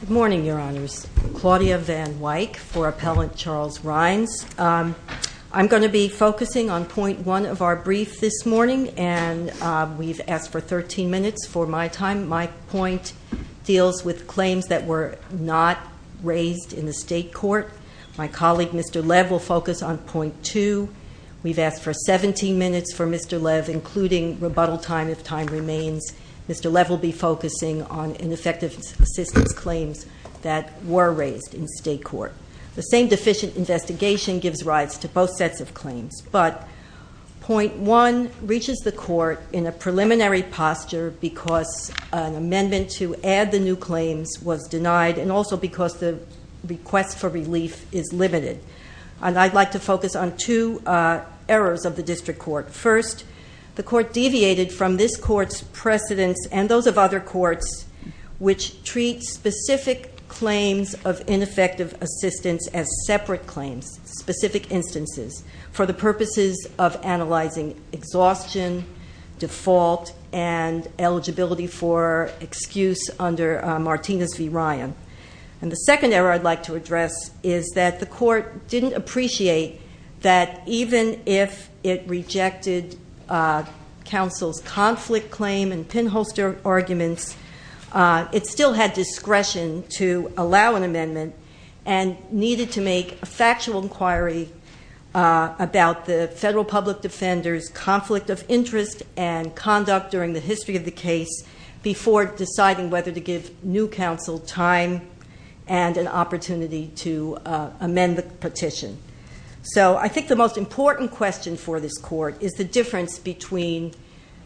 Good morning, Your Honors. Claudia Van Wyk for Appellant Charles Rhines. I'm going to be focusing on point one of our brief this morning, and we've asked for 13 minutes for my time. My point deals with claims that were not raised in the state court. My colleague, Mr. Lev, will focus on point two. We've asked for 17 minutes for Mr. Lev, including rebuttal time if time remains. Mr. Lev will be focusing on ineffective assistance claims that were raised in state court. The same deficient investigation gives rise to both sets of claims, but point one reaches the court in a preliminary posture because an amendment to add the new claims was denied and also because the request for relief is limited. I'd like to focus on two errors of the district court. First, the court deviated from this court's precedents and those of other courts which treat specific claims of ineffective assistance as separate claims, specific instances, for the purposes of analyzing exhaustion, default, and eligibility for excuse under Martinez v. Ryan. And the second error I'd like to address is that the court didn't appreciate that even if it rejected counsel's conflict claim and pinholster arguments, it still had discretion to allow an amendment and needed to make a factual inquiry about the federal public defender's conflict of interest and conduct during the history of the case before deciding whether to give new counsel time to make a decision. So I think the most important question for this court is the difference between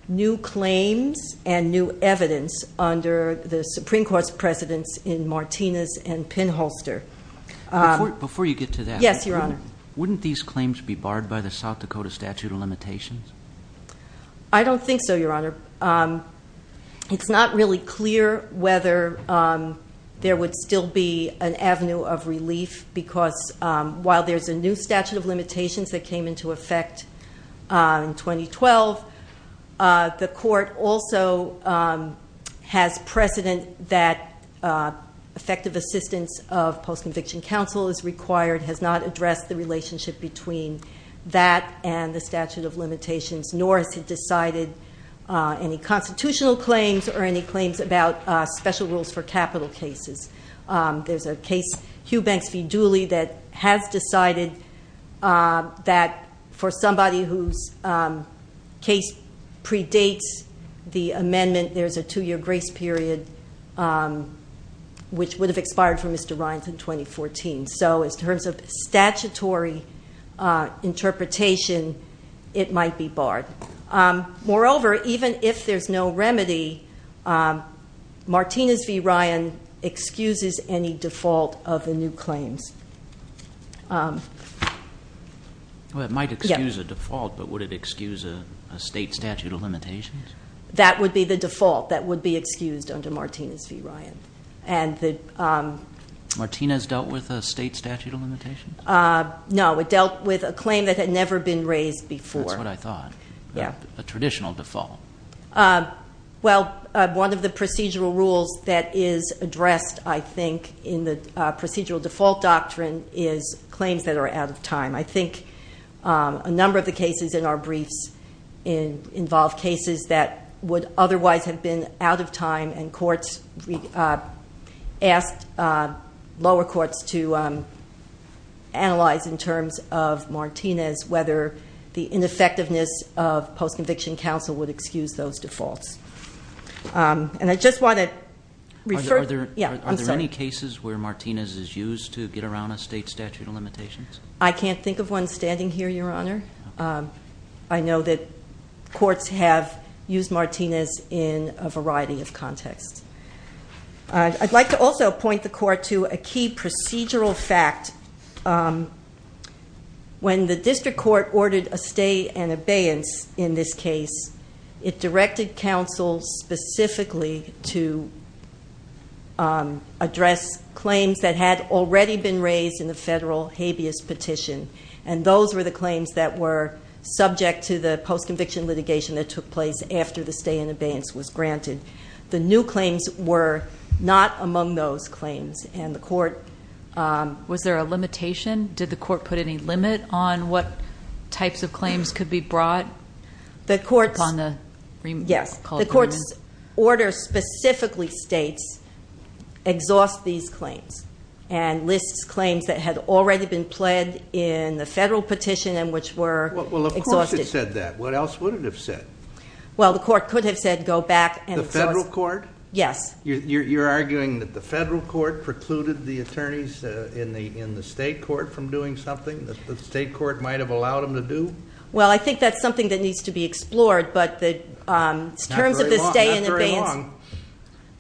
new claims and new evidence under the Supreme Court's precedents in Martinez and pinholster. Before you get to that, wouldn't these claims be barred by the South Dakota statute of limitations? I don't think so, Your Honor. It's not really clear whether there would still be an avenue of relief because while there's a new statute of limitations that came into effect in 2012, the court also has precedent that effective assistance of post-conviction counsel is required, has not addressed the relationship between that and the statute of limitations, nor has it decided any constitutional claims or any claims about special rules for capital cases. There's a case, Hugh Banks v. Dooley, that has decided that for somebody whose case predates the amendment, there's a two-year grace period which would have expired for Mr. Ryan in 2014. So in terms of statutory interpretation, it might be barred. Moreover, even if there's no remedy, Martinez v. Ryan excuses any default of the new claims. Well, it might excuse a default, but would it excuse a state statute of limitations? That would be the default that would be excused under Martinez v. Ryan. Martinez dealt with a state statute of limitations? No, it dealt with a claim that had never been raised before. That's what I thought. Yeah. A traditional default. Well, one of the procedural rules that is addressed, I think, in the procedural default doctrine is claims that are out of time. I think a number of the cases in our briefs involve cases that would otherwise have been out of time and courts asked lower courts to analyze in terms of Martinez whether the ineffectiveness of post-conviction counsel would excuse those defaults. And I just want to refer... Are there any cases where Martinez is used to get around a state statute of limitations? I can't think of one standing here, Your Honor. I know that courts have used Martinez in a variety of contexts. I'd like to also point the court to a key procedural fact. When the district court ordered a stay and abeyance in this case, it directed counsel specifically to address claims that had already been raised in the federal habeas petition. And those were the claims that were subject to the post-conviction litigation that took place after the stay and abeyance was granted. The new claims were not among those claims. And the court... Was there a limitation? Did the court put any limit on what types of claims could be brought? Yes. The court's order specifically states exhaust these claims and lists claims that had already been pled in the federal petition and which were exhausted. Well, of course it said that. What else would it have said? Well, the court could have said go back and exhaust... The federal court? Yes. You're arguing that the federal court precluded the attorneys in the state court from doing something that the state court might have allowed them to do? Well, I think that's something that needs to be explored, but the terms of the stay and abeyance... Not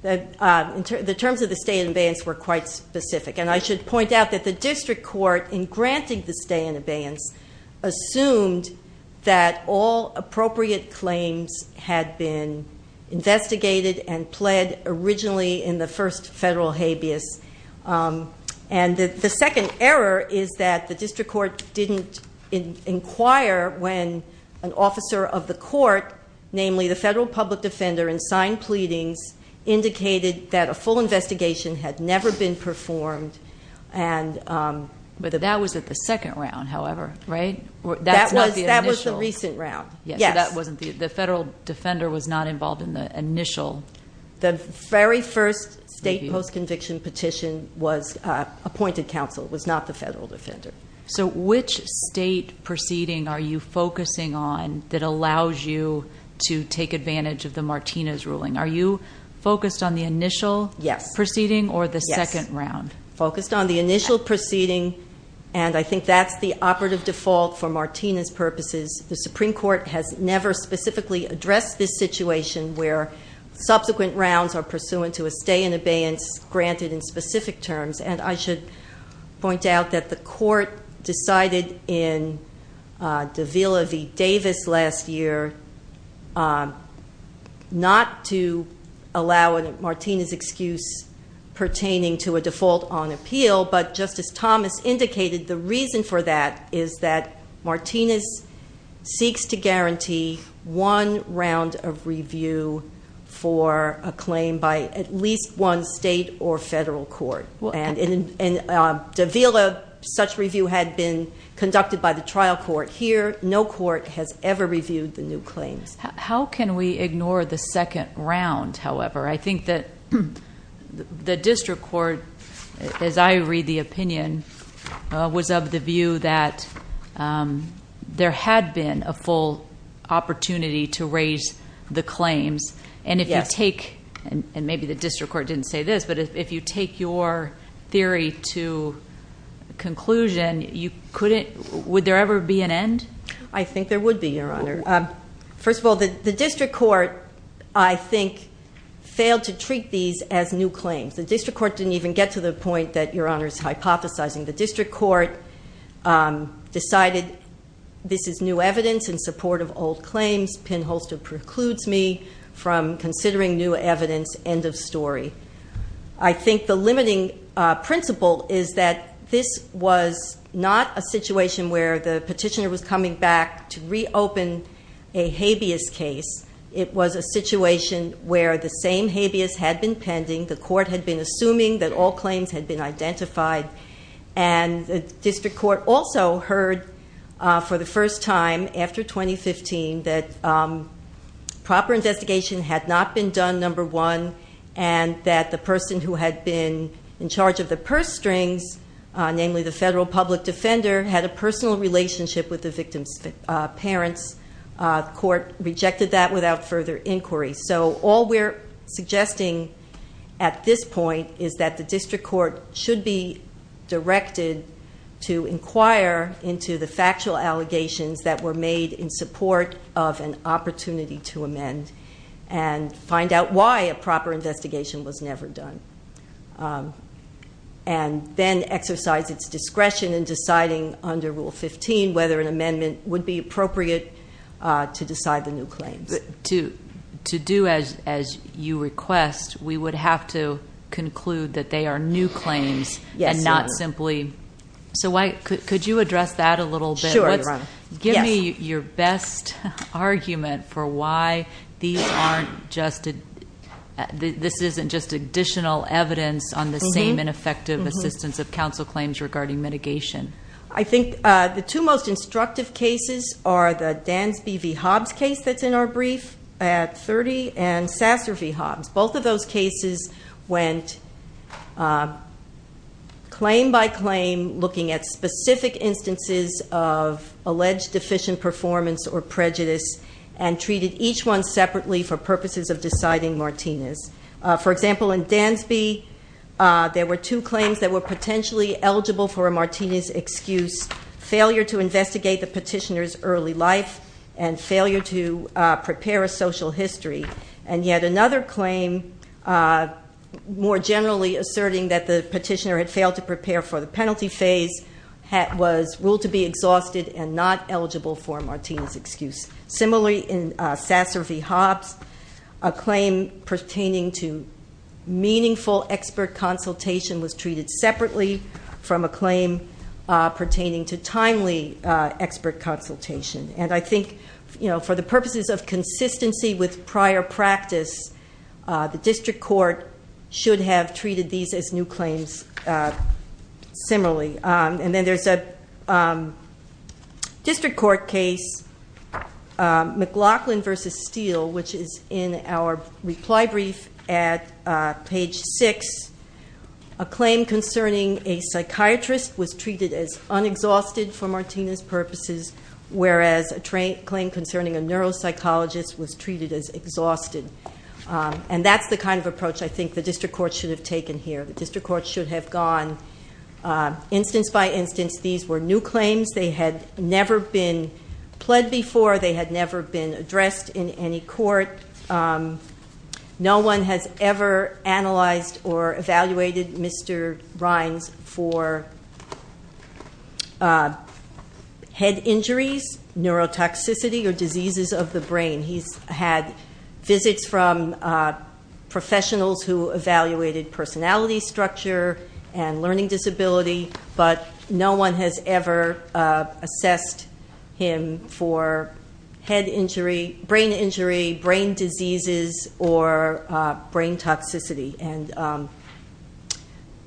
very long. The terms of the stay and abeyance were quite specific. And I should point out that the district court, in granting the stay and abeyance, assumed that all appropriate claims had been investigated and pled originally in the first federal habeas. And the second error is that the district court didn't inquire when an officer of the court, namely the federal public defender, in signed pleadings indicated that a full investigation had never been performed. But that was at the second round, however, right? That was the recent round. Yes. So the federal defender was not involved in the initial... The very first state post-conviction petition was appointed counsel. It was not the federal defender. So which state proceeding are you focusing on that allows you to take advantage of the Martinez ruling? Are you focused on the initial proceeding or the second round? Yes. Focused on the initial proceeding, and I think that's the operative default for Martinez purposes. The Supreme Court has never specifically addressed this situation where subsequent rounds are pursuant to a stay and abeyance granted in specific terms. And I should point out that the court decided in Davila v. Davis last year not to allow a Martinez excuse pertaining to a default on appeal, but Justice Thomas indicated the reason for that is that Martinez seeks to guarantee one round of review for a claim by at least one state or federal court. In Davila, such review had been conducted by the trial court. Here, no court has ever reviewed the new claims. How can we ignore the second round, however? I think that the district court, as I read the opinion, was of the view that there had been a full opportunity to raise the claims. Yes. And maybe the district court didn't say this, but if you take your theory to conclusion, would there ever be an end? I think there would be, Your Honor. First of all, the district court, I think, failed to treat these as new claims. The district court didn't even get to the point that Your Honor is hypothesizing. The district court decided this is new evidence in support of old claims. Pinholster precludes me from considering new evidence. End of story. I think the limiting principle is that this was not a situation where the petitioner was coming back to reopen a habeas case. It was a situation where the same habeas had been pending. The court had been assuming that all claims had been identified. And the district court also heard for the first time after 2015 that proper investigation had not been done, number one, and that the person who had been in charge of the purse strings, namely the federal public defender, had a personal relationship with the victim's parents. The court rejected that without further inquiry. So all we're suggesting at this point is that the district court should be directed to inquire into the factual allegations that were made in support of an opportunity to amend and find out why a proper investigation was never done and then exercise its discretion in deciding under Rule 15 whether an amendment would be appropriate to decide the new claims. To do as you request, we would have to conclude that they are new claims and not simply- Yes, Your Honor. So could you address that a little bit? Sure, Your Honor. Give me your best argument for why this isn't just additional evidence on the same ineffective assistance of counsel claims regarding mitigation. I think the two most instructive cases are the Dansby v. Hobbs case that's in our brief at 30 and Sasser v. Hobbs. Both of those cases went claim by claim looking at specific instances of alleged deficient performance or prejudice and treated each one separately for purposes of deciding Martinez. For example, in Dansby, there were two claims that were potentially eligible for a Martinez excuse, failure to investigate the petitioner's early life and failure to prepare a social history. And yet another claim, more generally asserting that the petitioner had failed to prepare for the penalty phase, was ruled to be exhausted and not eligible for a Martinez excuse. Similarly, in Sasser v. Hobbs, a claim pertaining to meaningful expert consultation was treated separately from a claim pertaining to timely expert consultation. And I think, you know, for the purposes of consistency with prior practice, the district court should have treated these as new claims similarly. And then there's a district court case, McLaughlin v. Steele, which is in our reply brief at page 6. A claim concerning a psychiatrist was treated as unexhausted for Martinez purposes, whereas a claim concerning a neuropsychologist was treated as exhausted. And that's the kind of approach I think the district court should have taken here. The district court should have gone instance by instance. These were new claims. They had never been pled before. They had never been addressed in any court. No one has ever analyzed or evaluated Mr. Rines for head injuries, neurotoxicity, or diseases of the brain. He's had visits from professionals who evaluated personality structure and learning disability, but no one has ever assessed him for head injury, brain injury, brain diseases, or brain toxicity. And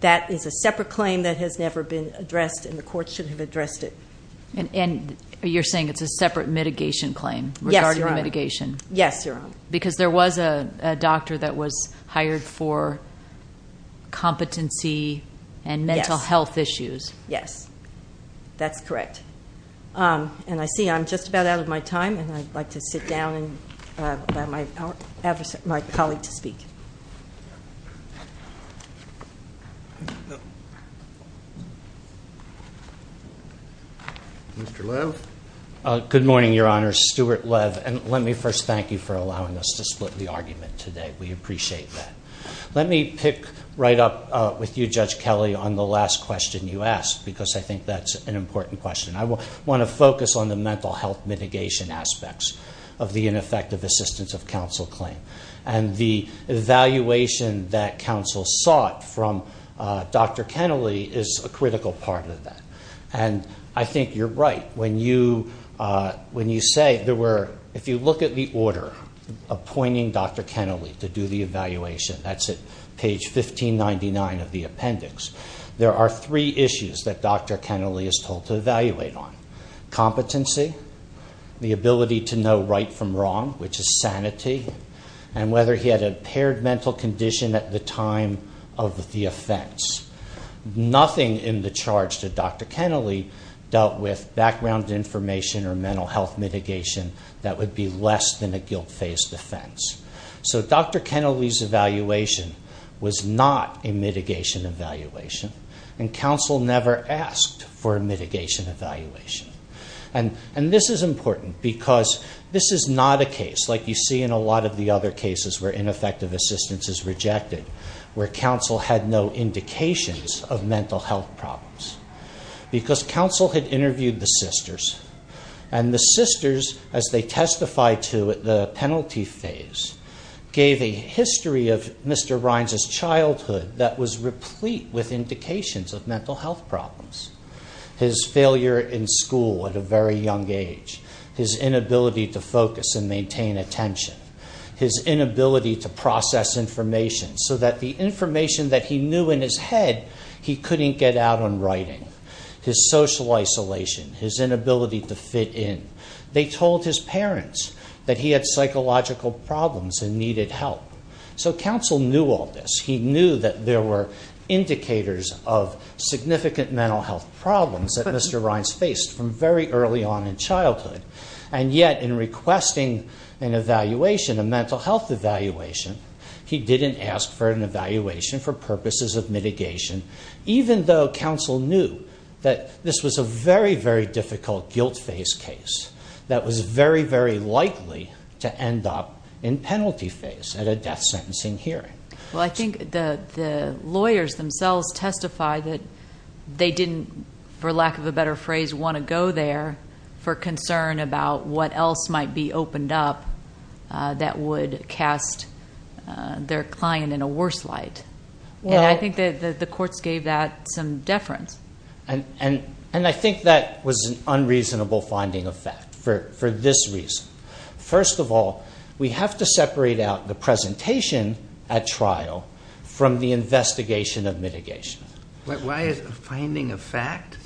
that is a separate claim that has never been addressed, and the court should have addressed it. And you're saying it's a separate mitigation claim regarding the mitigation? Yes, Your Honor. Because there was a doctor that was hired for competency and mental health issues? Yes. That's correct. And I see I'm just about out of my time, and I'd like to sit down and allow my colleague to speak. Mr. Lev. Good morning, Your Honor. Stuart Lev. And let me first thank you for allowing us to split the argument today. We appreciate that. Let me pick right up with you, Judge Kelly, on the last question you asked, because I think that's an important question. I want to focus on the mental health mitigation aspects of the ineffective assistance of counsel claim. And the evaluation that counsel sought from Dr. Kennelly is a critical part of that. And I think you're right. When you say there were, if you look at the order appointing Dr. Kennelly to do the evaluation, that's at page 1599 of the appendix, there are three issues that Dr. Kennelly is told to evaluate on. Competency, the ability to know right from wrong, which is sanity, and whether he had a paired mental condition at the time of the offense. Nothing in the charge to Dr. Kennelly dealt with background information or mental health mitigation that would be less than a guilt-faced offense. So Dr. Kennelly's evaluation was not a mitigation evaluation, and counsel never asked for a mitigation evaluation. And this is important because this is not a case like you see in a lot of the other cases where ineffective assistance is rejected, where counsel had no indications of mental health problems. Because counsel had interviewed the sisters, and the sisters, as they testified to at the penalty phase, gave a history of Mr. Rines' childhood that was replete with indications of mental health problems. His failure in school at a very young age, his inability to focus and maintain attention, his inability to process information so that the information that he knew in his head he couldn't get out on writing, his social isolation, his inability to fit in. They told his parents that he had psychological problems and needed help. So counsel knew all this. He knew that there were indicators of significant mental health problems that Mr. Rines faced from very early on in childhood. And yet, in requesting an evaluation, a mental health evaluation, he didn't ask for an evaluation for purposes of mitigation, even though counsel knew that this was a very, very difficult guilt-faced case that was very, very likely to end up in penalty phase at a death sentencing hearing. Well, I think the lawyers themselves testify that they didn't, for lack of a better phrase, want to go there for concern about what else might be opened up that would cast their client in a worse light. And I think that the courts gave that some deference. And I think that was an unreasonable finding of fact for this reason. First of all, we have to separate out the presentation at trial from the investigation of mitigation. Why is it a finding of fact?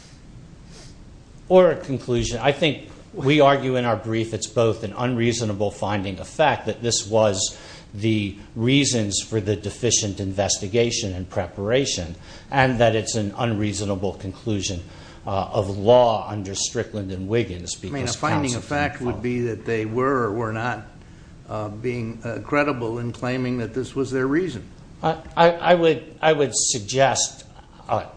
Or a conclusion. I think we argue in our brief it's both an unreasonable finding of fact, that this was the reasons for the deficient investigation and preparation, and that it's an unreasonable conclusion of law under Strickland and Wiggins. I mean, a finding of fact would be that they were or were not being credible in claiming that this was their reason. I would suggest,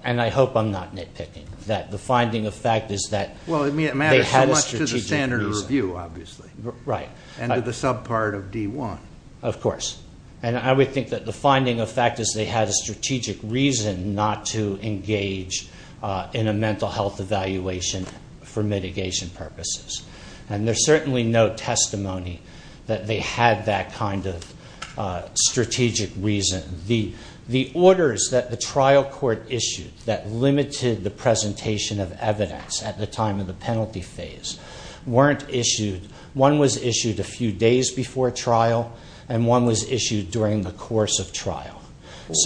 and I hope I'm not nitpicking, that the finding of fact is that they had a strategic reason. Well, I mean, it matters so much to the standard review, obviously. Right. And to the subpart of D1. Of course. And I would think that the finding of fact is they had a strategic reason not to engage in a mental health evaluation for mitigation purposes. And there's certainly no testimony that they had that kind of strategic reason. The orders that the trial court issued that limited the presentation of evidence at the time of the penalty phase weren't issued. One was issued a few days before trial, and one was issued during the course of trial. Let's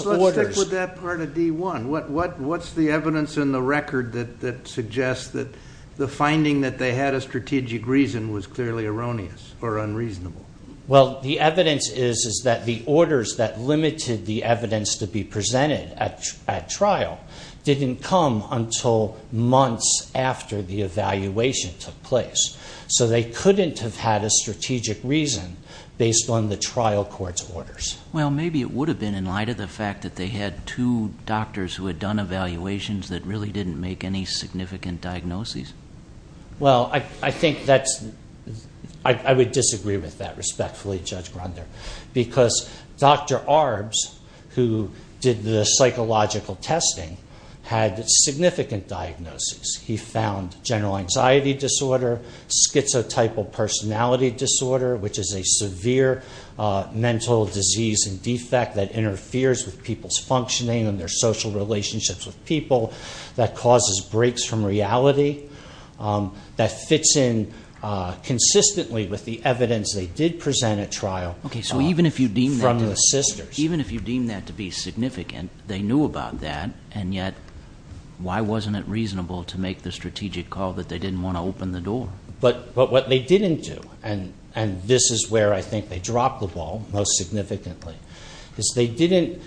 stick with that part of D1. What's the evidence in the record that suggests that the finding that they had a strategic reason was clearly erroneous or unreasonable? Well, the evidence is that the orders that limited the evidence to be presented at trial didn't come until months after the evaluation took place. So they couldn't have had a strategic reason based on the trial court's orders. Well, maybe it would have been in light of the fact that they had two doctors who had done evaluations that really didn't make any significant diagnoses. Well, I think that's – I would disagree with that respectfully, Judge Grunder, because Dr. Arbs, who did the psychological testing, had significant diagnoses. He found general anxiety disorder, schizotypal personality disorder, which is a severe mental disease and defect that interferes with people's functioning and their social relationships with people, that causes breaks from reality, that fits in consistently with the evidence they did present at trial. Okay, so even if you deem that to be significant, they knew about that, and yet why wasn't it reasonable to make the strategic call that they didn't want to open the door? But what they didn't do, and this is where I think they dropped the ball most significantly, is they didn't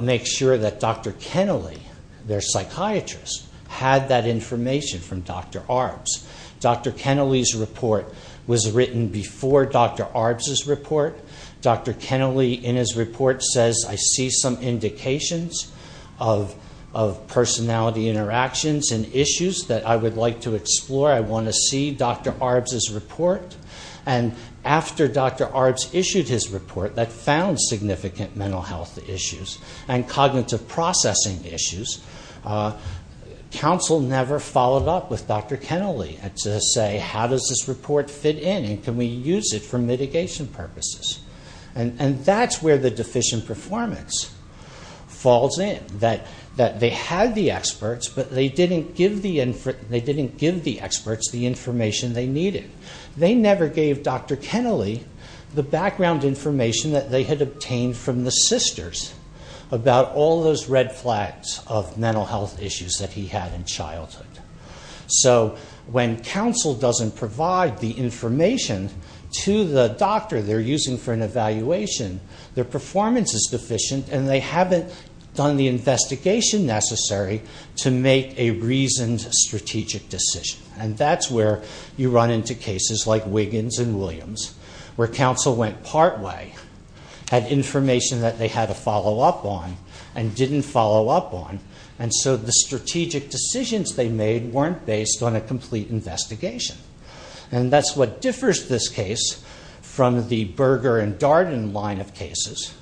make sure that Dr. Kennelly, their psychiatrist, had that information from Dr. Arbs. Dr. Kennelly's report was written before Dr. Arbs' report. Dr. Kennelly, in his report, says, I see some indications of personality interactions and issues that I would like to explore. I want to see Dr. Arbs' report. And after Dr. Arbs issued his report that found significant mental health issues and cognitive processing issues, counsel never followed up with Dr. Kennelly to say, how does this report fit in and can we use it for mitigation purposes? And that's where the deficient performance falls in, that they had the experts, but they didn't give the experts the information they needed. They never gave Dr. Kennelly the background information that they had obtained from the sisters about all those red flags of mental health issues that he had in childhood. So when counsel doesn't provide the information to the doctor they're using for an evaluation, their performance is deficient and they haven't done the investigation necessary to make a reasoned strategic decision. And that's where you run into cases like Wiggins and Williams, where counsel went partway, had information that they had to follow up on and didn't follow up on, and so the strategic decisions they made weren't based on a complete investigation. And that's what differs this case from the Berger and Darden line of cases,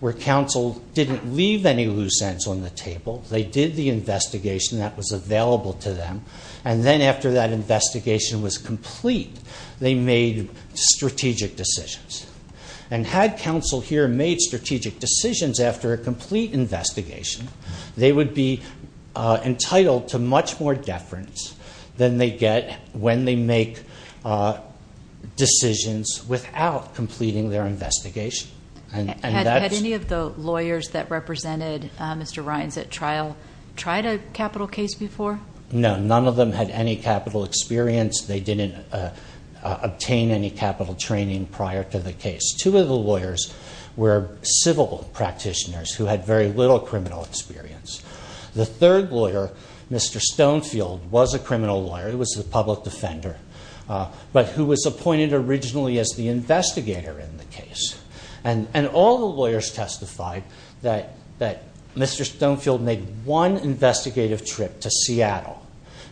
where counsel didn't leave any loose ends on the table. They did the investigation that was available to them, and then after that investigation was complete they made strategic decisions. And had counsel here made strategic decisions after a complete investigation, they would be entitled to much more deference than they get when they make decisions without completing their investigation. Had any of the lawyers that represented Mr. Rines at trial tried a capital case before? No, none of them had any capital experience. They didn't obtain any capital training prior to the case. Two of the lawyers were civil practitioners who had very little criminal experience. The third lawyer, Mr. Stonefield, was a criminal lawyer. He was a public defender, but who was appointed originally as the investigator in the case. And all the lawyers testified that Mr. Stonefield made one investigative trip to Seattle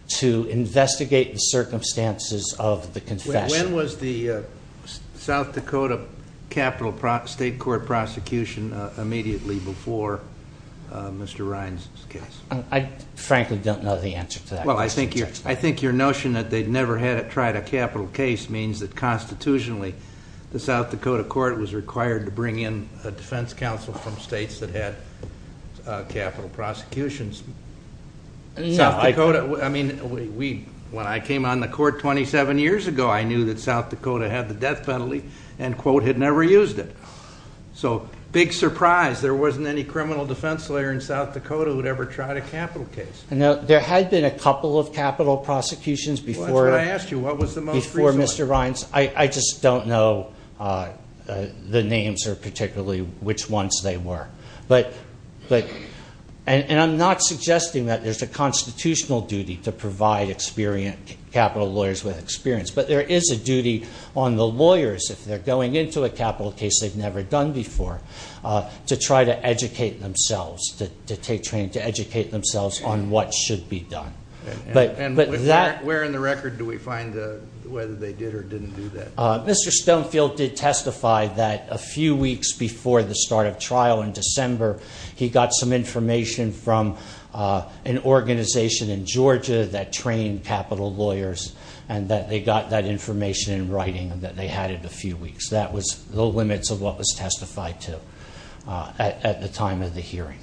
to investigate the circumstances of the confession. When was the South Dakota capital state court prosecution immediately before Mr. Rines' case? I frankly don't know the answer to that question. I think your notion that they'd never tried a capital case means that constitutionally the South Dakota court was required to bring in a defense counsel from states that had capital prosecutions. South Dakota, I mean, when I came on the court 27 years ago, I knew that South Dakota had the death penalty and, quote, had never used it. So, big surprise, there wasn't any criminal defense lawyer in South Dakota who'd ever tried a capital case. There had been a couple of capital prosecutions before Mr. Rines. I just don't know the names or particularly which ones they were. And I'm not suggesting that there's a constitutional duty to provide capital lawyers with experience, but there is a duty on the lawyers if they're going into a capital case they've never done before to try to educate themselves, to take training, to educate themselves on what should be done. And where in the record do we find whether they did or didn't do that? Mr. Stonefield did testify that a few weeks before the start of trial in December, he got some information from an organization in Georgia that trained capital lawyers and that they got that information in writing and that they had it a few weeks. That was the limits of what was testified to at the time of the hearing.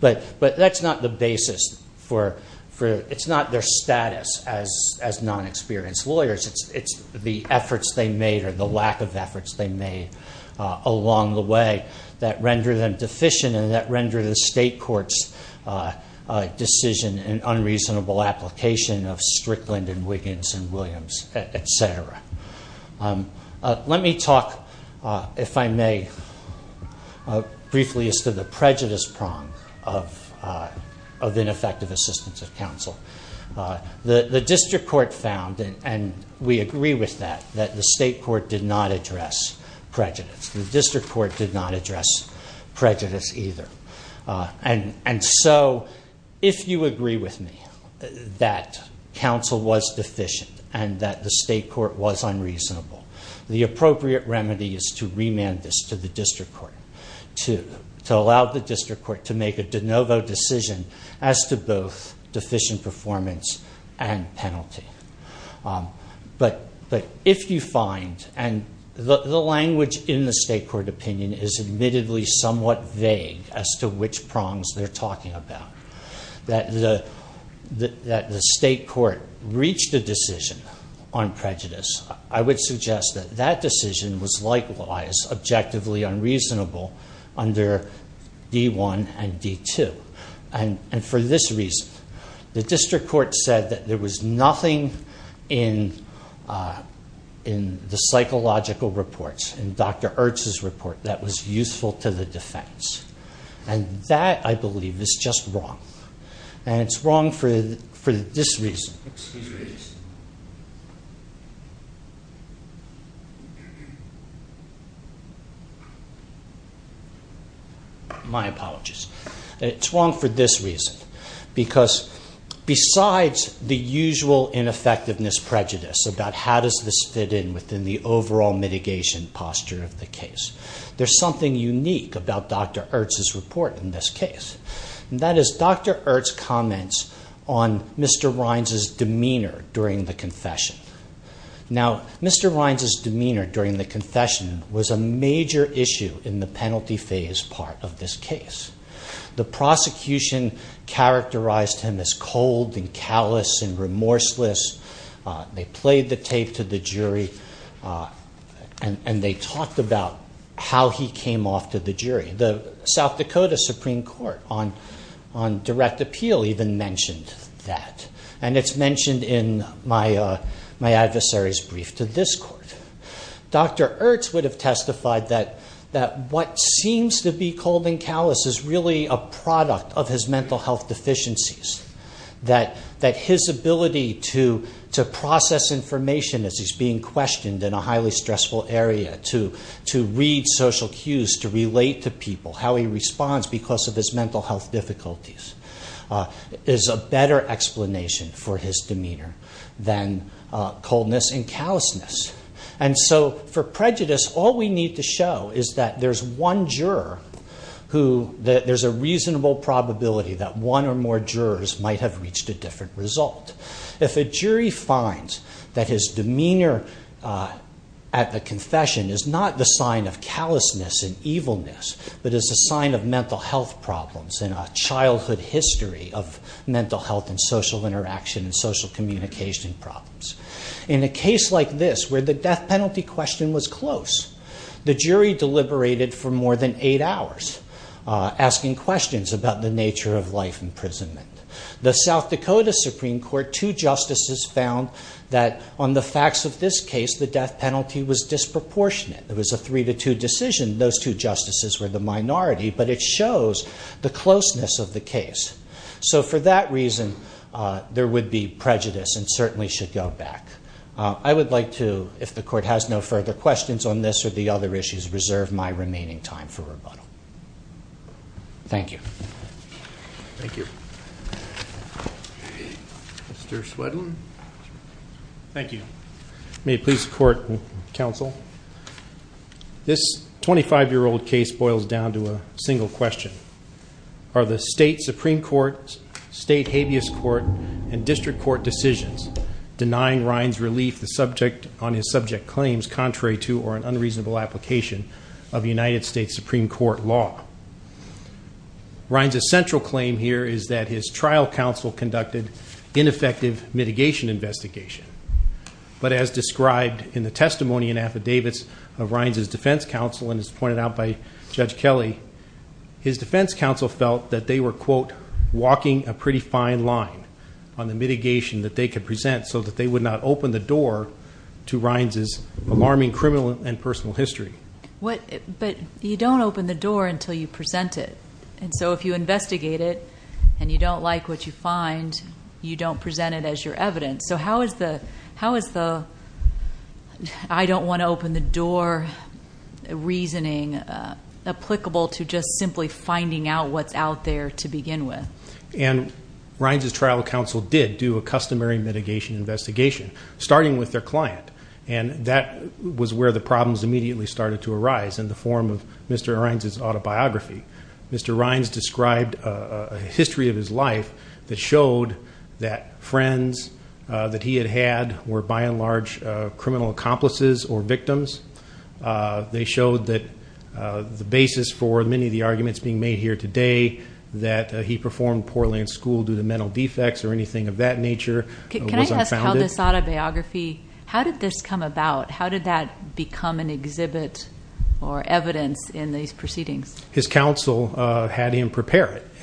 But that's not the basis for, it's not their status as non-experienced lawyers. It's the efforts they made or the lack of efforts they made along the way that rendered them deficient and that rendered the state court's decision an unreasonable application of Strickland and Wiggins and Williams, etc. Let me talk, if I may, briefly as to the prejudice prong of ineffective assistance of counsel. The district court found, and we agree with that, that the state court did not address prejudice. The district court did not address prejudice either. And so if you agree with me that counsel was deficient and that the state court was unreasonable, the appropriate remedy is to remand this to the district court, to allow the district court to make a de novo decision as to both deficient performance and penalty. But if you find, and the language in the state court opinion is admittedly somewhat vague as to which prongs they're talking about, that the state court reached a decision on prejudice, I would suggest that that decision was likewise objectively unreasonable under D1 and D2. And for this reason, the district court said that there was nothing in the psychological reports, in Dr. Ertz's report, that was useful to the defense. And that, I believe, is just wrong. And it's wrong for this reason. My apologies. And it's wrong for this reason, because besides the usual ineffectiveness prejudice about how does this fit in within the overall mitigation posture of the case, there's something unique about Dr. Ertz's report in this case. And that is Dr. Ertz comments on Mr. Rines' demeanor during the confession. Now, Mr. Rines' demeanor during the confession was a major issue in the penalty phase part of this case. The prosecution characterized him as cold and callous and remorseless. They played the tape to the jury, and they talked about how he came off to the jury. The South Dakota Supreme Court on direct appeal even mentioned that. And it's mentioned in my adversary's brief to this court. Dr. Ertz would have testified that what seems to be cold and callous is really a product of his mental health deficiencies, that his ability to process information as he's being questioned in a highly stressful area, to read social cues, to relate to people, how he responds because of his mental health difficulties, is a better explanation for his demeanor than coldness and callousness. And so for prejudice, all we need to show is that there's one juror who there's a reasonable probability that one or more jurors might have reached a different result. If a jury finds that his demeanor at the confession is not the sign of callousness and evilness, but is a sign of mental health problems and a childhood history of mental health and social interaction and social communication problems. In a case like this, where the death penalty question was close, the jury deliberated for more than eight hours, asking questions about the nature of life imprisonment. The South Dakota Supreme Court, two justices found that on the facts of this case, the death penalty was disproportionate. It was a three to two decision. Those two justices were the minority, but it shows the closeness of the case. So for that reason, there would be prejudice and certainly should go back. I would like to, if the court has no further questions on this or the other issues, reserve my remaining time for rebuttal. Thank you. Thank you. Mr. Swedlund? Thank you. May it please the court and counsel. This 25-year-old case boils down to a single question. Are the state Supreme Court, state habeas court, and district court decisions denying Ryan's relief on his subject claims contrary to or an unreasonable application of United States Supreme Court law? Ryan's essential claim here is that his trial counsel conducted ineffective mitigation investigation. But as described in the testimony and affidavits of Ryan's defense counsel and as pointed out by Judge Kelly, his defense counsel felt that they were, quote, walking a pretty fine line on the mitigation that they could present so that they would not open the door to Ryan's alarming criminal and personal history. But you don't open the door until you present it. And so if you investigate it and you don't like what you find, you don't present it as your evidence. So how is the I don't want to open the door reasoning applicable to just simply finding out what's out there to begin with? And Ryan's trial counsel did do a customary mitigation investigation, starting with their client. And that was where the problems immediately started to arise in the form of Mr. Ryan's autobiography. Mr. Ryan's described a history of his life that showed that friends that he had had were, by and large, criminal accomplices or victims. They showed that the basis for many of the arguments being made here today, that he performed poorly in school due to mental defects or anything of that nature, was unfounded. Can I ask how this autobiography, how did this come about? How did that become an exhibit or evidence in these proceedings? His counsel had him prepare it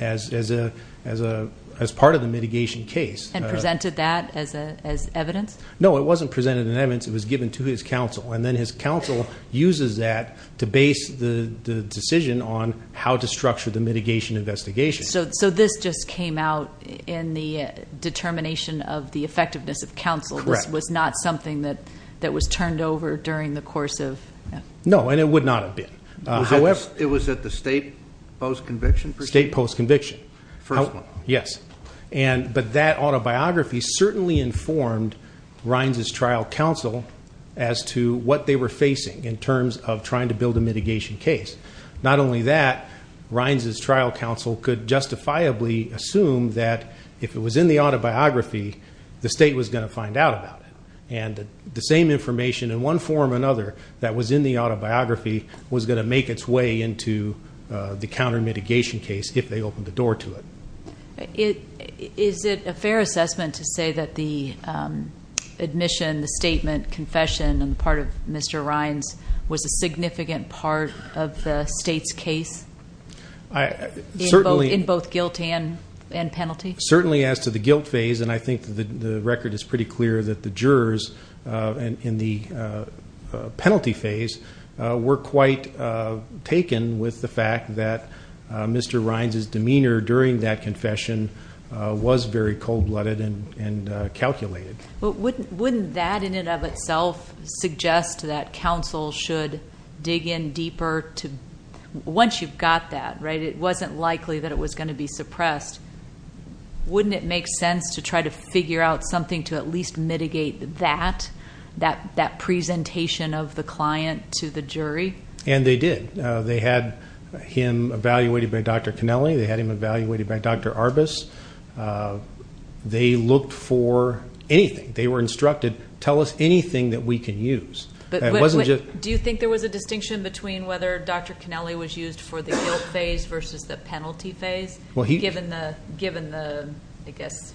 as part of the mitigation case. And presented that as evidence? No, it wasn't presented as evidence. It was given to his counsel. And then his counsel uses that to base the decision on how to structure the mitigation investigation. So this just came out in the determination of the effectiveness of counsel. Correct. This was not something that was turned over during the course of. No, and it would not have been. It was at the state post-conviction proceeding? State post-conviction. First one. Yes. But that autobiography certainly informed Ryan's trial counsel as to what they were facing in terms of trying to build a mitigation case. Not only that, Ryan's trial counsel could justifiably assume that if it was in the autobiography, the state was going to find out about it. And the same information in one form or another that was in the autobiography was going to make its way into the counter mitigation case if they opened the door to it. Is it a fair assessment to say that the admission, the statement, confession on the part of Mr. Ryan's was a significant part of the state's case? Certainly. In both guilt and penalty? Certainly as to the guilt phase, and I think the record is pretty clear that the jurors in the penalty phase were quite taken with the fact that Mr. Ryan's demeanor during that confession was very cold-blooded and calculated. Wouldn't that in and of itself suggest that counsel should dig in deeper to, once you've got that, it wasn't likely that it was going to be suppressed. Wouldn't it make sense to try to figure out something to at least mitigate that, that presentation of the client to the jury? And they did. They had him evaluated by Dr. Connelly. They had him evaluated by Dr. Arbus. They looked for anything. They were instructed, tell us anything that we can use. Do you think there was a distinction between whether Dr. Connelly was used for the guilt phase versus the penalty phase, given the, I guess,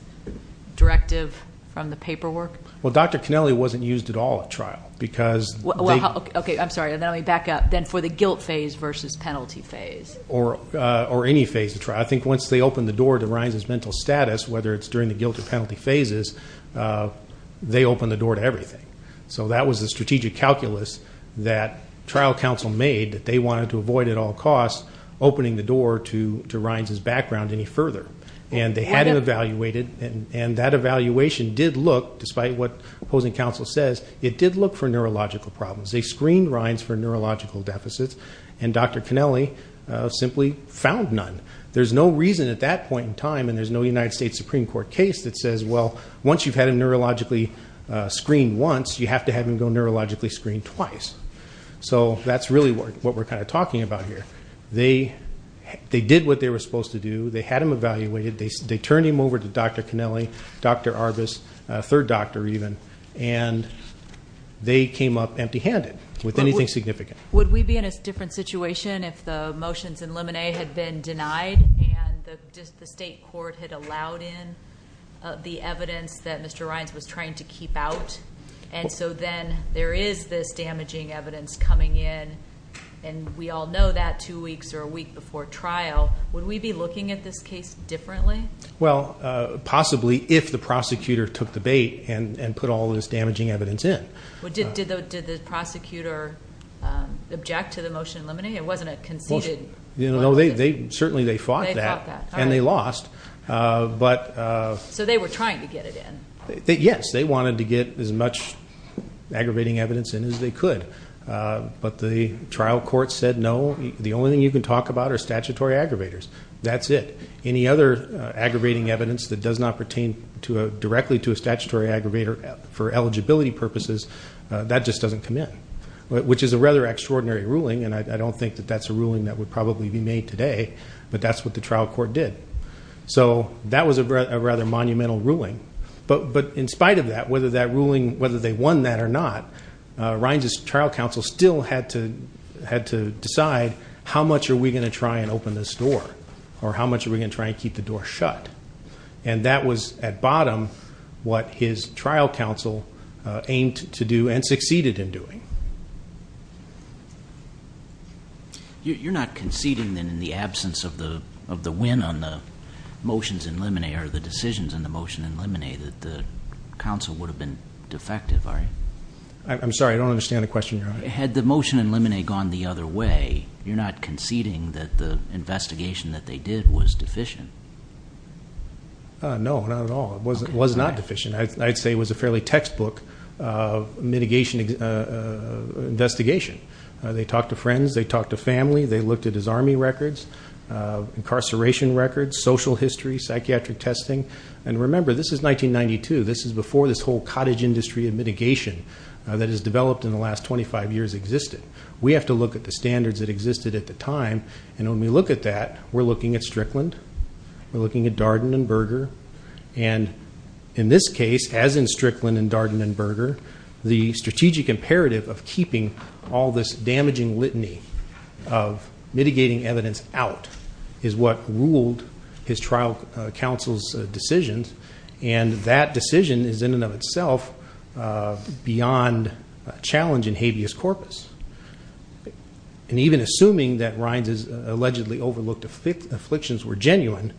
directive from the paperwork? Well, Dr. Connelly wasn't used at all at trial because they… Okay, I'm sorry. Let me back up. Then for the guilt phase versus penalty phase? Or any phase of trial. I think once they opened the door to Ryans' mental status, whether it's during the guilt or penalty phases, they opened the door to everything. So that was the strategic calculus that trial counsel made that they wanted to avoid at all costs, opening the door to Ryans' background any further. And they had him evaluated, and that evaluation did look, despite what opposing counsel says, it did look for neurological problems. They screened Ryans for neurological deficits, and Dr. Connelly simply found none. There's no reason at that point in time, and there's no United States Supreme Court case that says, well, once you've had him neurologically screened once, you have to have him go neurologically screened twice. So that's really what we're kind of talking about here. They did what they were supposed to do. They had him evaluated. They turned him over to Dr. Connelly, Dr. Arbus, a third doctor even, and they came up empty-handed with anything significant. Would we be in a different situation if the motions in Lemonet had been denied and just the state court had allowed in the evidence that Mr. Ryans was trying to keep out? And so then there is this damaging evidence coming in, and we all know that two weeks or a week before trial. Would we be looking at this case differently? Well, possibly if the prosecutor took the bait and put all this damaging evidence in. Did the prosecutor object to the motion in Lemonet? It wasn't a conceded motion? No, certainly they fought that, and they lost. So they were trying to get it in? Yes, they wanted to get as much aggravating evidence in as they could. But the trial court said, no, the only thing you can talk about are statutory aggravators. That's it. Any other aggravating evidence that does not pertain directly to a statutory aggravator for eligibility purposes, that just doesn't come in, which is a rather extraordinary ruling, and I don't think that that's a ruling that would probably be made today, but that's what the trial court did. So that was a rather monumental ruling. But in spite of that, whether that ruling, whether they won that or not, Ryans' trial counsel still had to decide how much are we going to try and open this door or how much are we going to try and keep the door shut. And that was, at bottom, what his trial counsel aimed to do and succeeded in doing. You're not conceding then in the absence of the win on the motions in Lemonet or the decisions in the motion in Lemonet that the counsel would have been defective, are you? I'm sorry, I don't understand the question, Your Honor. Had the motion in Lemonet gone the other way, you're not conceding that the investigation that they did was deficient? No, not at all. It was not deficient. I'd say it was a fairly textbook mitigation investigation. They talked to friends. They talked to family. They looked at his Army records, incarceration records, social history, psychiatric testing. And remember, this is 1992. This is before this whole cottage industry of mitigation that has developed in the last 25 years existed. We have to look at the standards that existed at the time. And when we look at that, we're looking at Strickland. We're looking at Darden and Berger. And in this case, as in Strickland and Darden and Berger, the strategic imperative of keeping all this damaging litany of mitigating evidence out is what ruled his trial counsel's decisions, and that decision is in and of itself beyond challenge in habeas corpus. And even assuming that Rines' allegedly overlooked afflictions were genuine,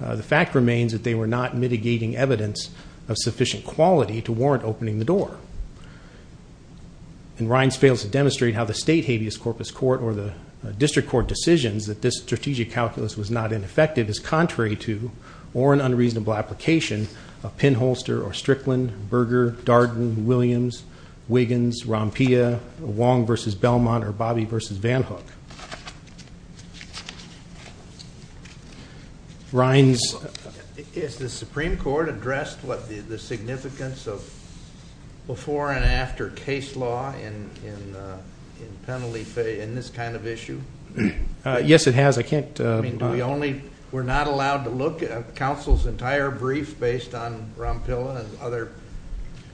the fact remains that they were not mitigating evidence of sufficient quality to warrant opening the door. And Rines fails to demonstrate how the state habeas corpus court or the district court decisions that this strategic calculus was not ineffective is contrary to or an unreasonable application of Pinholster or Strickland, Berger, Darden, Williams, Wiggins, Rompia, Wong v. Belmont, or Bobby v. Vanhook. Rines. Has the Supreme Court addressed the significance of before and after case law in this kind of issue? Yes, it has. We're not allowed to look at counsel's entire brief based on Rompilla and other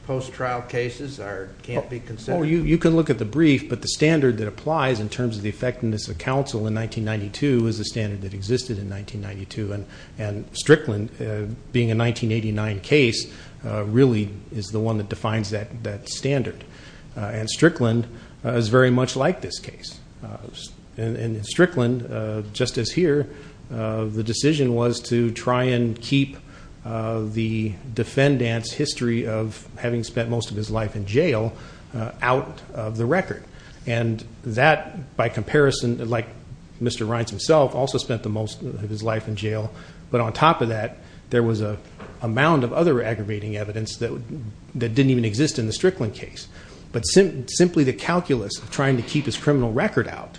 post-trial cases that can't be considered? You can look at the brief, but the standard that applies in terms of the effectiveness of counsel in 1992 is the standard that existed in 1992, and Strickland, being a 1989 case, really is the one that defines that standard. And Strickland is very much like this case. In Strickland, just as here, the decision was to try and keep the defendant's history of having spent most of his life in jail out of the record. And that, by comparison, like Mr. Rines himself, also spent the most of his life in jail. But on top of that, there was an amount of other aggravating evidence that didn't even exist in the Strickland case. But simply the calculus of trying to keep his criminal record out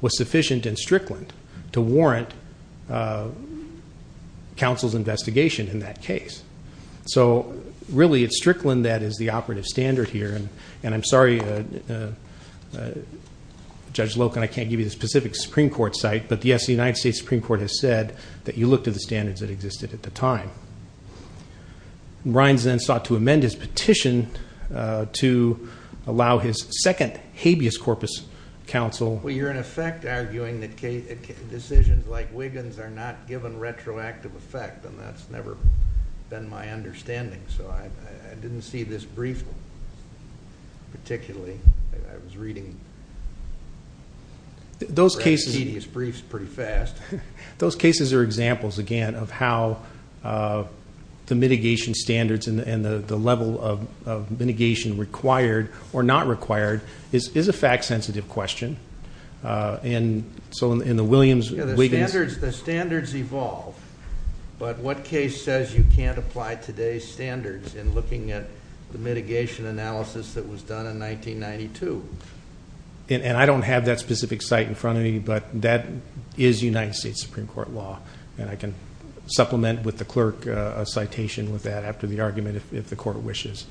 was sufficient in Strickland to warrant counsel's investigation in that case. So really, it's Strickland that is the operative standard here. And I'm sorry, Judge Loken, I can't give you the specific Supreme Court site, but, yes, the United States Supreme Court has said that you look to the standards that existed at the time. Rines then sought to amend his petition to allow his second habeas corpus counsel. Well, you're, in effect, arguing that decisions like Wiggins are not given retroactive effect, and that's never been my understanding. So I didn't see this brief, particularly. I was reading these briefs pretty fast. Those cases are examples, again, of how the mitigation standards and the level of mitigation required or not required is a fact-sensitive question. And so in the Williams-Wiggins. The standards evolve, but what case says you can't apply today's standards in looking at the mitigation analysis that was done in 1992? And I don't have that specific site in front of me, but that is United States Supreme Court law, and I can supplement with the clerk a citation with that after the argument if the court wishes.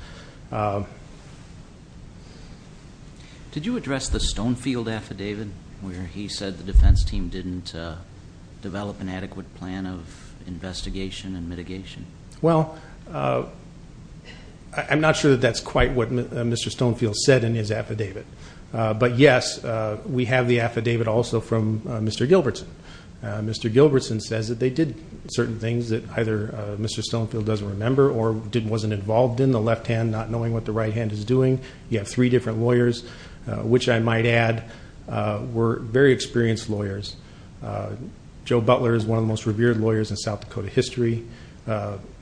Did you address the Stonefield affidavit where he said the defense team didn't develop an adequate plan of investigation and mitigation? Well, I'm not sure that that's quite what Mr. Stonefield said in his affidavit. But, yes, we have the affidavit also from Mr. Gilbertson. Mr. Gilbertson says that they did certain things that either Mr. Stonefield doesn't remember or wasn't involved in, the left hand not knowing what the right hand is doing. You have three different lawyers, which I might add were very experienced lawyers. Joe Butler is one of the most revered lawyers in South Dakota history,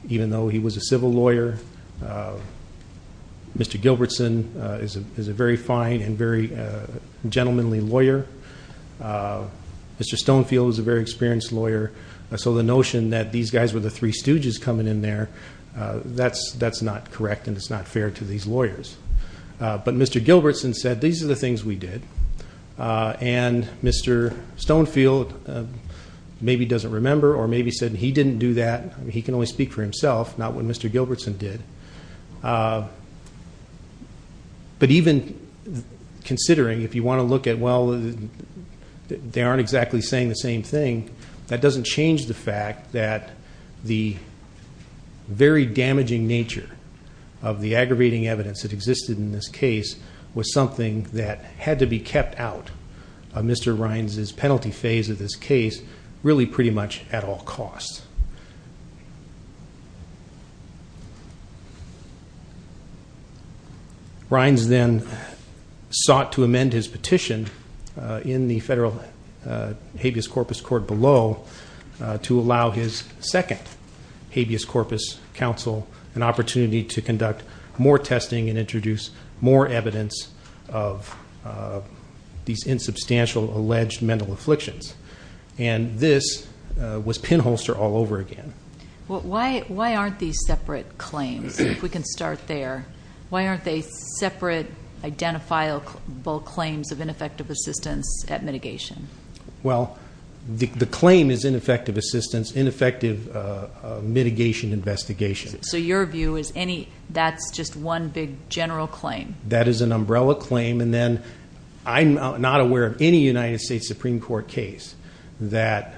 even though he was a civil lawyer. Mr. Gilbertson is a very fine and very gentlemanly lawyer. Mr. Stonefield is a very experienced lawyer. So the notion that these guys were the three stooges coming in there, that's not correct and it's not fair to these lawyers. But Mr. Gilbertson said, these are the things we did. And Mr. Stonefield maybe doesn't remember or maybe said he didn't do that. He can only speak for himself, not what Mr. Gilbertson did. But even considering, if you want to look at, well, they aren't exactly saying the same thing, that doesn't change the fact that the very damaging nature of the aggravating evidence that existed in this case was something that had to be kept out of Mr. Rines' penalty phase of this case, really pretty much at all costs. Rines then sought to amend his petition in the federal habeas corpus court below to allow his second habeas corpus counsel an opportunity to conduct more testing and introduce more evidence of these insubstantial alleged mental afflictions. And this was pinholster all over again. Why aren't these separate claims, if we can start there? Why aren't they separate identifiable claims of ineffective assistance at mitigation? Well, the claim is ineffective assistance, ineffective mitigation investigation. So your view is that's just one big general claim? That is an umbrella claim, and then I'm not aware of any United States Supreme Court case that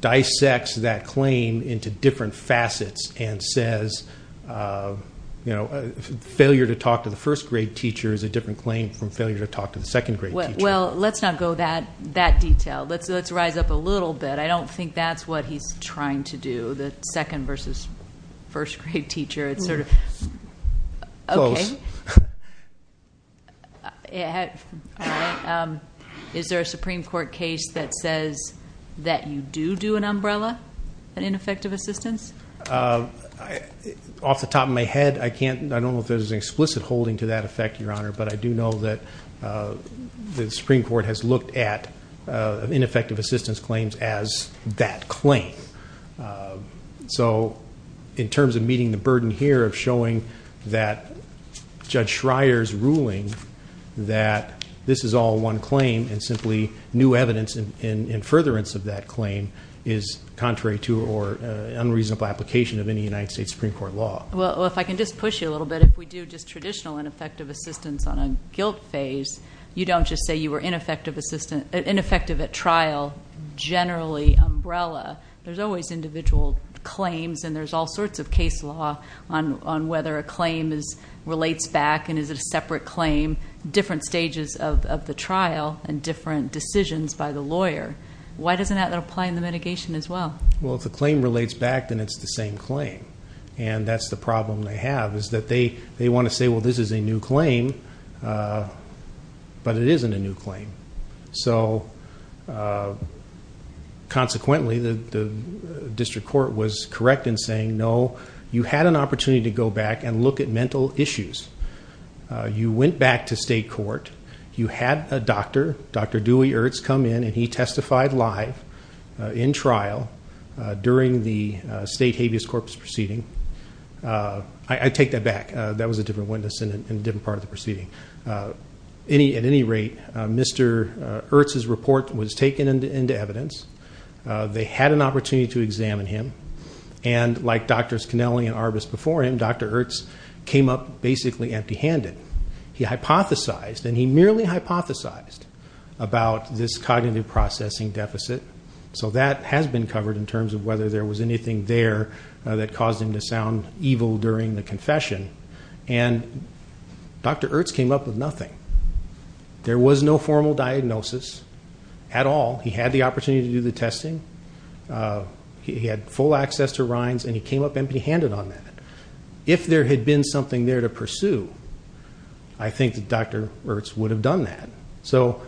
dissects that claim into different facets and says failure to talk to the first grade teacher is a different claim from failure to talk to the second grade teacher. Well, let's not go that detailed. Let's rise up a little bit. I don't think that's what he's trying to do, the second versus first grade teacher. Close. Is there a Supreme Court case that says that you do do an umbrella in ineffective assistance? Off the top of my head, I don't know if there's an explicit holding to that effect, Your Honor, but I do know that the Supreme Court has looked at ineffective assistance claims as that claim. So in terms of meeting the burden here of showing that Judge Schreier's ruling that this is all one claim and simply new evidence in furtherance of that claim is contrary to or unreasonable application of any United States Supreme Court law. Well, if I can just push you a little bit, if we do just traditional ineffective assistance on a guilt phase, you don't just say you were ineffective at trial, generally umbrella. There's always individual claims, and there's all sorts of case law on whether a claim relates back and is it a separate claim, different stages of the trial, and different decisions by the lawyer. Why doesn't that apply in the mitigation as well? Well, if the claim relates back, then it's the same claim. And that's the problem they have is that they want to say, well, this is a new claim, but it isn't a new claim. So consequently, the district court was correct in saying no, you had an opportunity to go back and look at mental issues. You went back to state court. You had a doctor, Dr. Dewey Ertz, come in, and he testified live in trial during the state habeas corpus proceeding. I take that back. That was a different witness in a different part of the proceeding. At any rate, Mr. Ertz's report was taken into evidence. They had an opportunity to examine him. And like Drs. Connelly and Arbus before him, Dr. Ertz came up basically empty-handed. He hypothesized, and he merely hypothesized, about this cognitive processing deficit. So that has been covered in terms of whether there was anything there that caused him to sound evil during the confession. And Dr. Ertz came up with nothing. There was no formal diagnosis at all. He had the opportunity to do the testing. He had full access to Rhines, and he came up empty-handed on that. If there had been something there to pursue, I think that Dr. Ertz would have done that. So,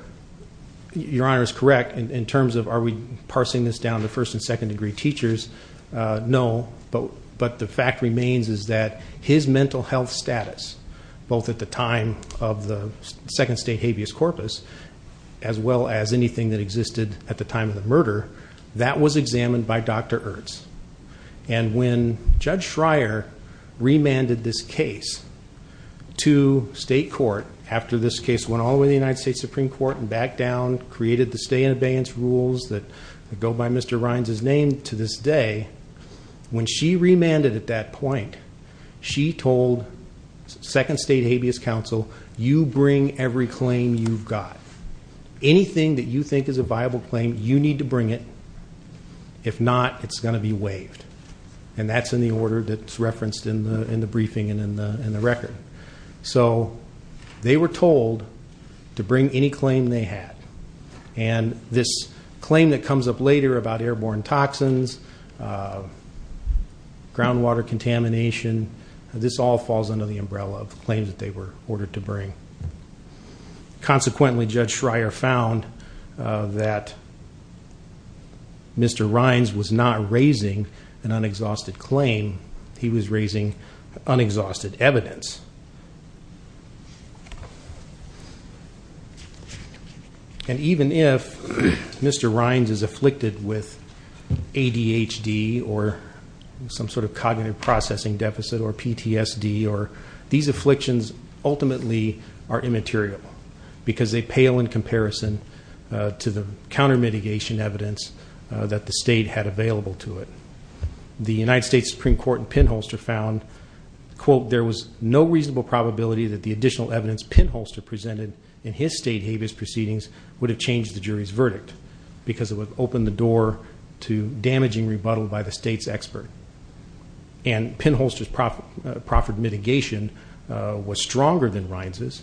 Your Honor is correct in terms of are we parsing this down to first and second-degree teachers. No, but the fact remains is that his mental health status, both at the time of the second state habeas corpus as well as anything that existed at the time of the murder, that was examined by Dr. Ertz. And when Judge Schreier remanded this case to state court, after this case went all the way to the United States Supreme Court and back down, created the stay-in-abeyance rules that go by Mr. Rhines' name to this day, when she remanded at that point, she told second state habeas counsel, you bring every claim you've got. Anything that you think is a viable claim, you need to bring it. If not, it's going to be waived, and that's in the order that's referenced in the briefing and in the record. So they were told to bring any claim they had, and this claim that comes up later about airborne toxins, groundwater contamination, this all falls under the umbrella of the claims that they were ordered to bring. Consequently, Judge Schreier found that Mr. Rhines was not raising an unexhausted claim. He was raising unexhausted evidence. And even if Mr. Rhines is afflicted with ADHD or some sort of cognitive processing deficit or PTSD, these afflictions ultimately are immaterial, because they pale in comparison to the counter mitigation evidence that the state had available to it. The United States Supreme Court in Pinholster found, quote, there was no reasonable probability that the additional evidence Pinholster presented in his state habeas proceedings would have changed the jury's verdict, because it would have opened the door to damaging rebuttal by the state's expert. And Pinholster's proffered mitigation was stronger than Rhines'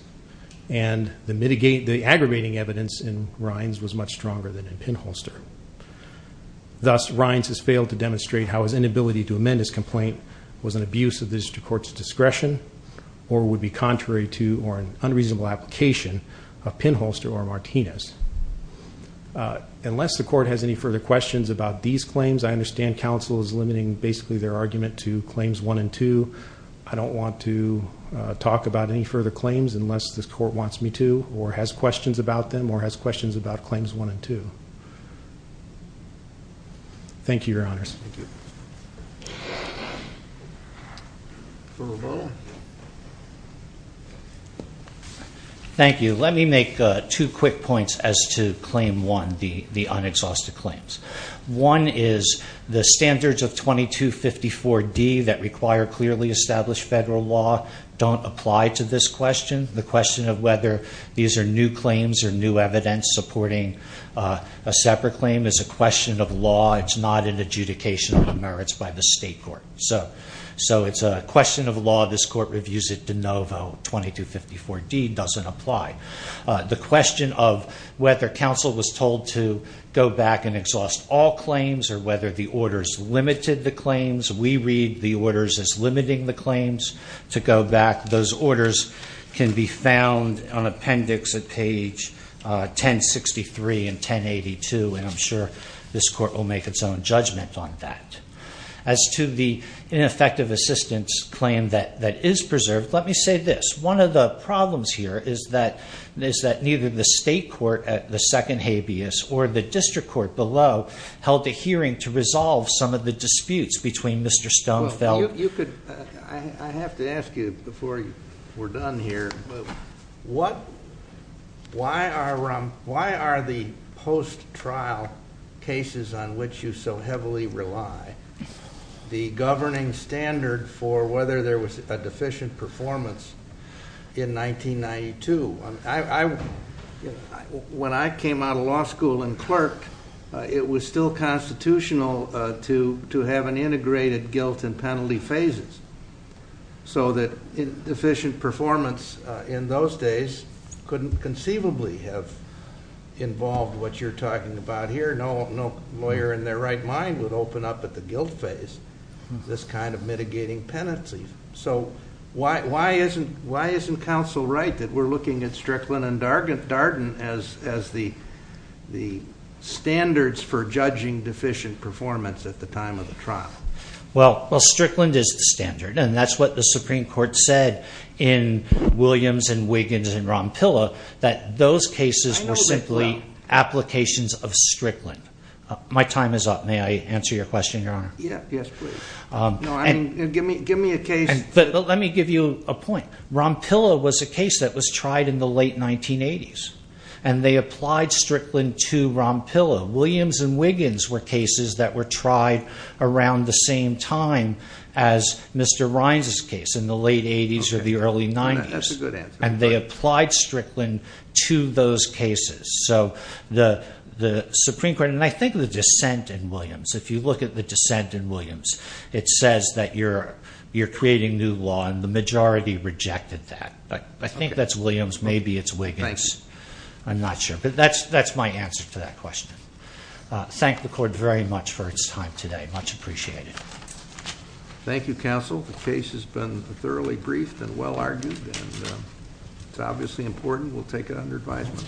and the aggravating evidence in Rhines' was much stronger than in Pinholster. Thus, Rhines has failed to demonstrate how his inability to amend his complaint was an abuse of the district court's discretion or would be contrary to or an unreasonable application of Pinholster or Martinez. Unless the court has any further questions about these claims, I understand counsel is limiting basically their argument to claims one and two. I don't want to talk about any further claims unless the court wants me to or has questions about them or has questions about claims one and two. Thank you, Your Honors. Thank you. Let me make two quick points as to claim one, the unexhausted claims. One is the standards of 2254D that require clearly established federal law don't apply to this question. The question of whether these are new claims or new evidence supporting a separate claim is a question of law. It's not an adjudication of the merits by the state court. So it's a question of law. This court reviews it de novo. 2254D doesn't apply. The question of whether counsel was told to go back and exhaust all claims or whether the orders limited the claims, we read the orders as limiting the claims to go back. Those orders can be found on appendix at page 1063 and 1082, and I'm sure this court will make its own judgment on that. As to the ineffective assistance claim that is preserved, let me say this. One of the problems here is that neither the state court at the second habeas or the district court below held a hearing to resolve some of the disputes between Mr. Stonefield. I have to ask you before we're done here, why are the post-trial cases on which you so heavily rely, the governing standard for whether there was a deficient performance in 1992? When I came out of law school and clerk, it was still constitutional to have an integrated guilt and penalty phases so that deficient performance in those days couldn't conceivably have involved what you're talking about here. No lawyer in their right mind would open up at the guilt phase this kind of mitigating penalty. So why isn't counsel right that we're looking at Strickland and Darden as the standards for judging deficient performance at the time of the trial? Well, Strickland is the standard, and that's what the Supreme Court said in Williams and Wiggins and Rompilla that those cases were simply applications of Strickland. My time is up. May I answer your question, Your Honor? Yes, please. Give me a case. Let me give you a point. Rompilla was a case that was tried in the late 1980s, and they applied Strickland to Rompilla. Williams and Wiggins were cases that were tried around the same time as Mr. Rines' case in the late 80s or the early 90s, and they applied Strickland to those cases. So the Supreme Court, and I think the dissent in Williams, if you look at the dissent in Williams, it says that you're creating new law, and the majority rejected that. I think that's Williams. Maybe it's Wiggins. I'm not sure. But that's my answer to that question. Thank the Court very much for its time today. Much appreciated. Thank you, counsel. The case has been thoroughly briefed and well argued. It's obviously important. We'll take it under advisement.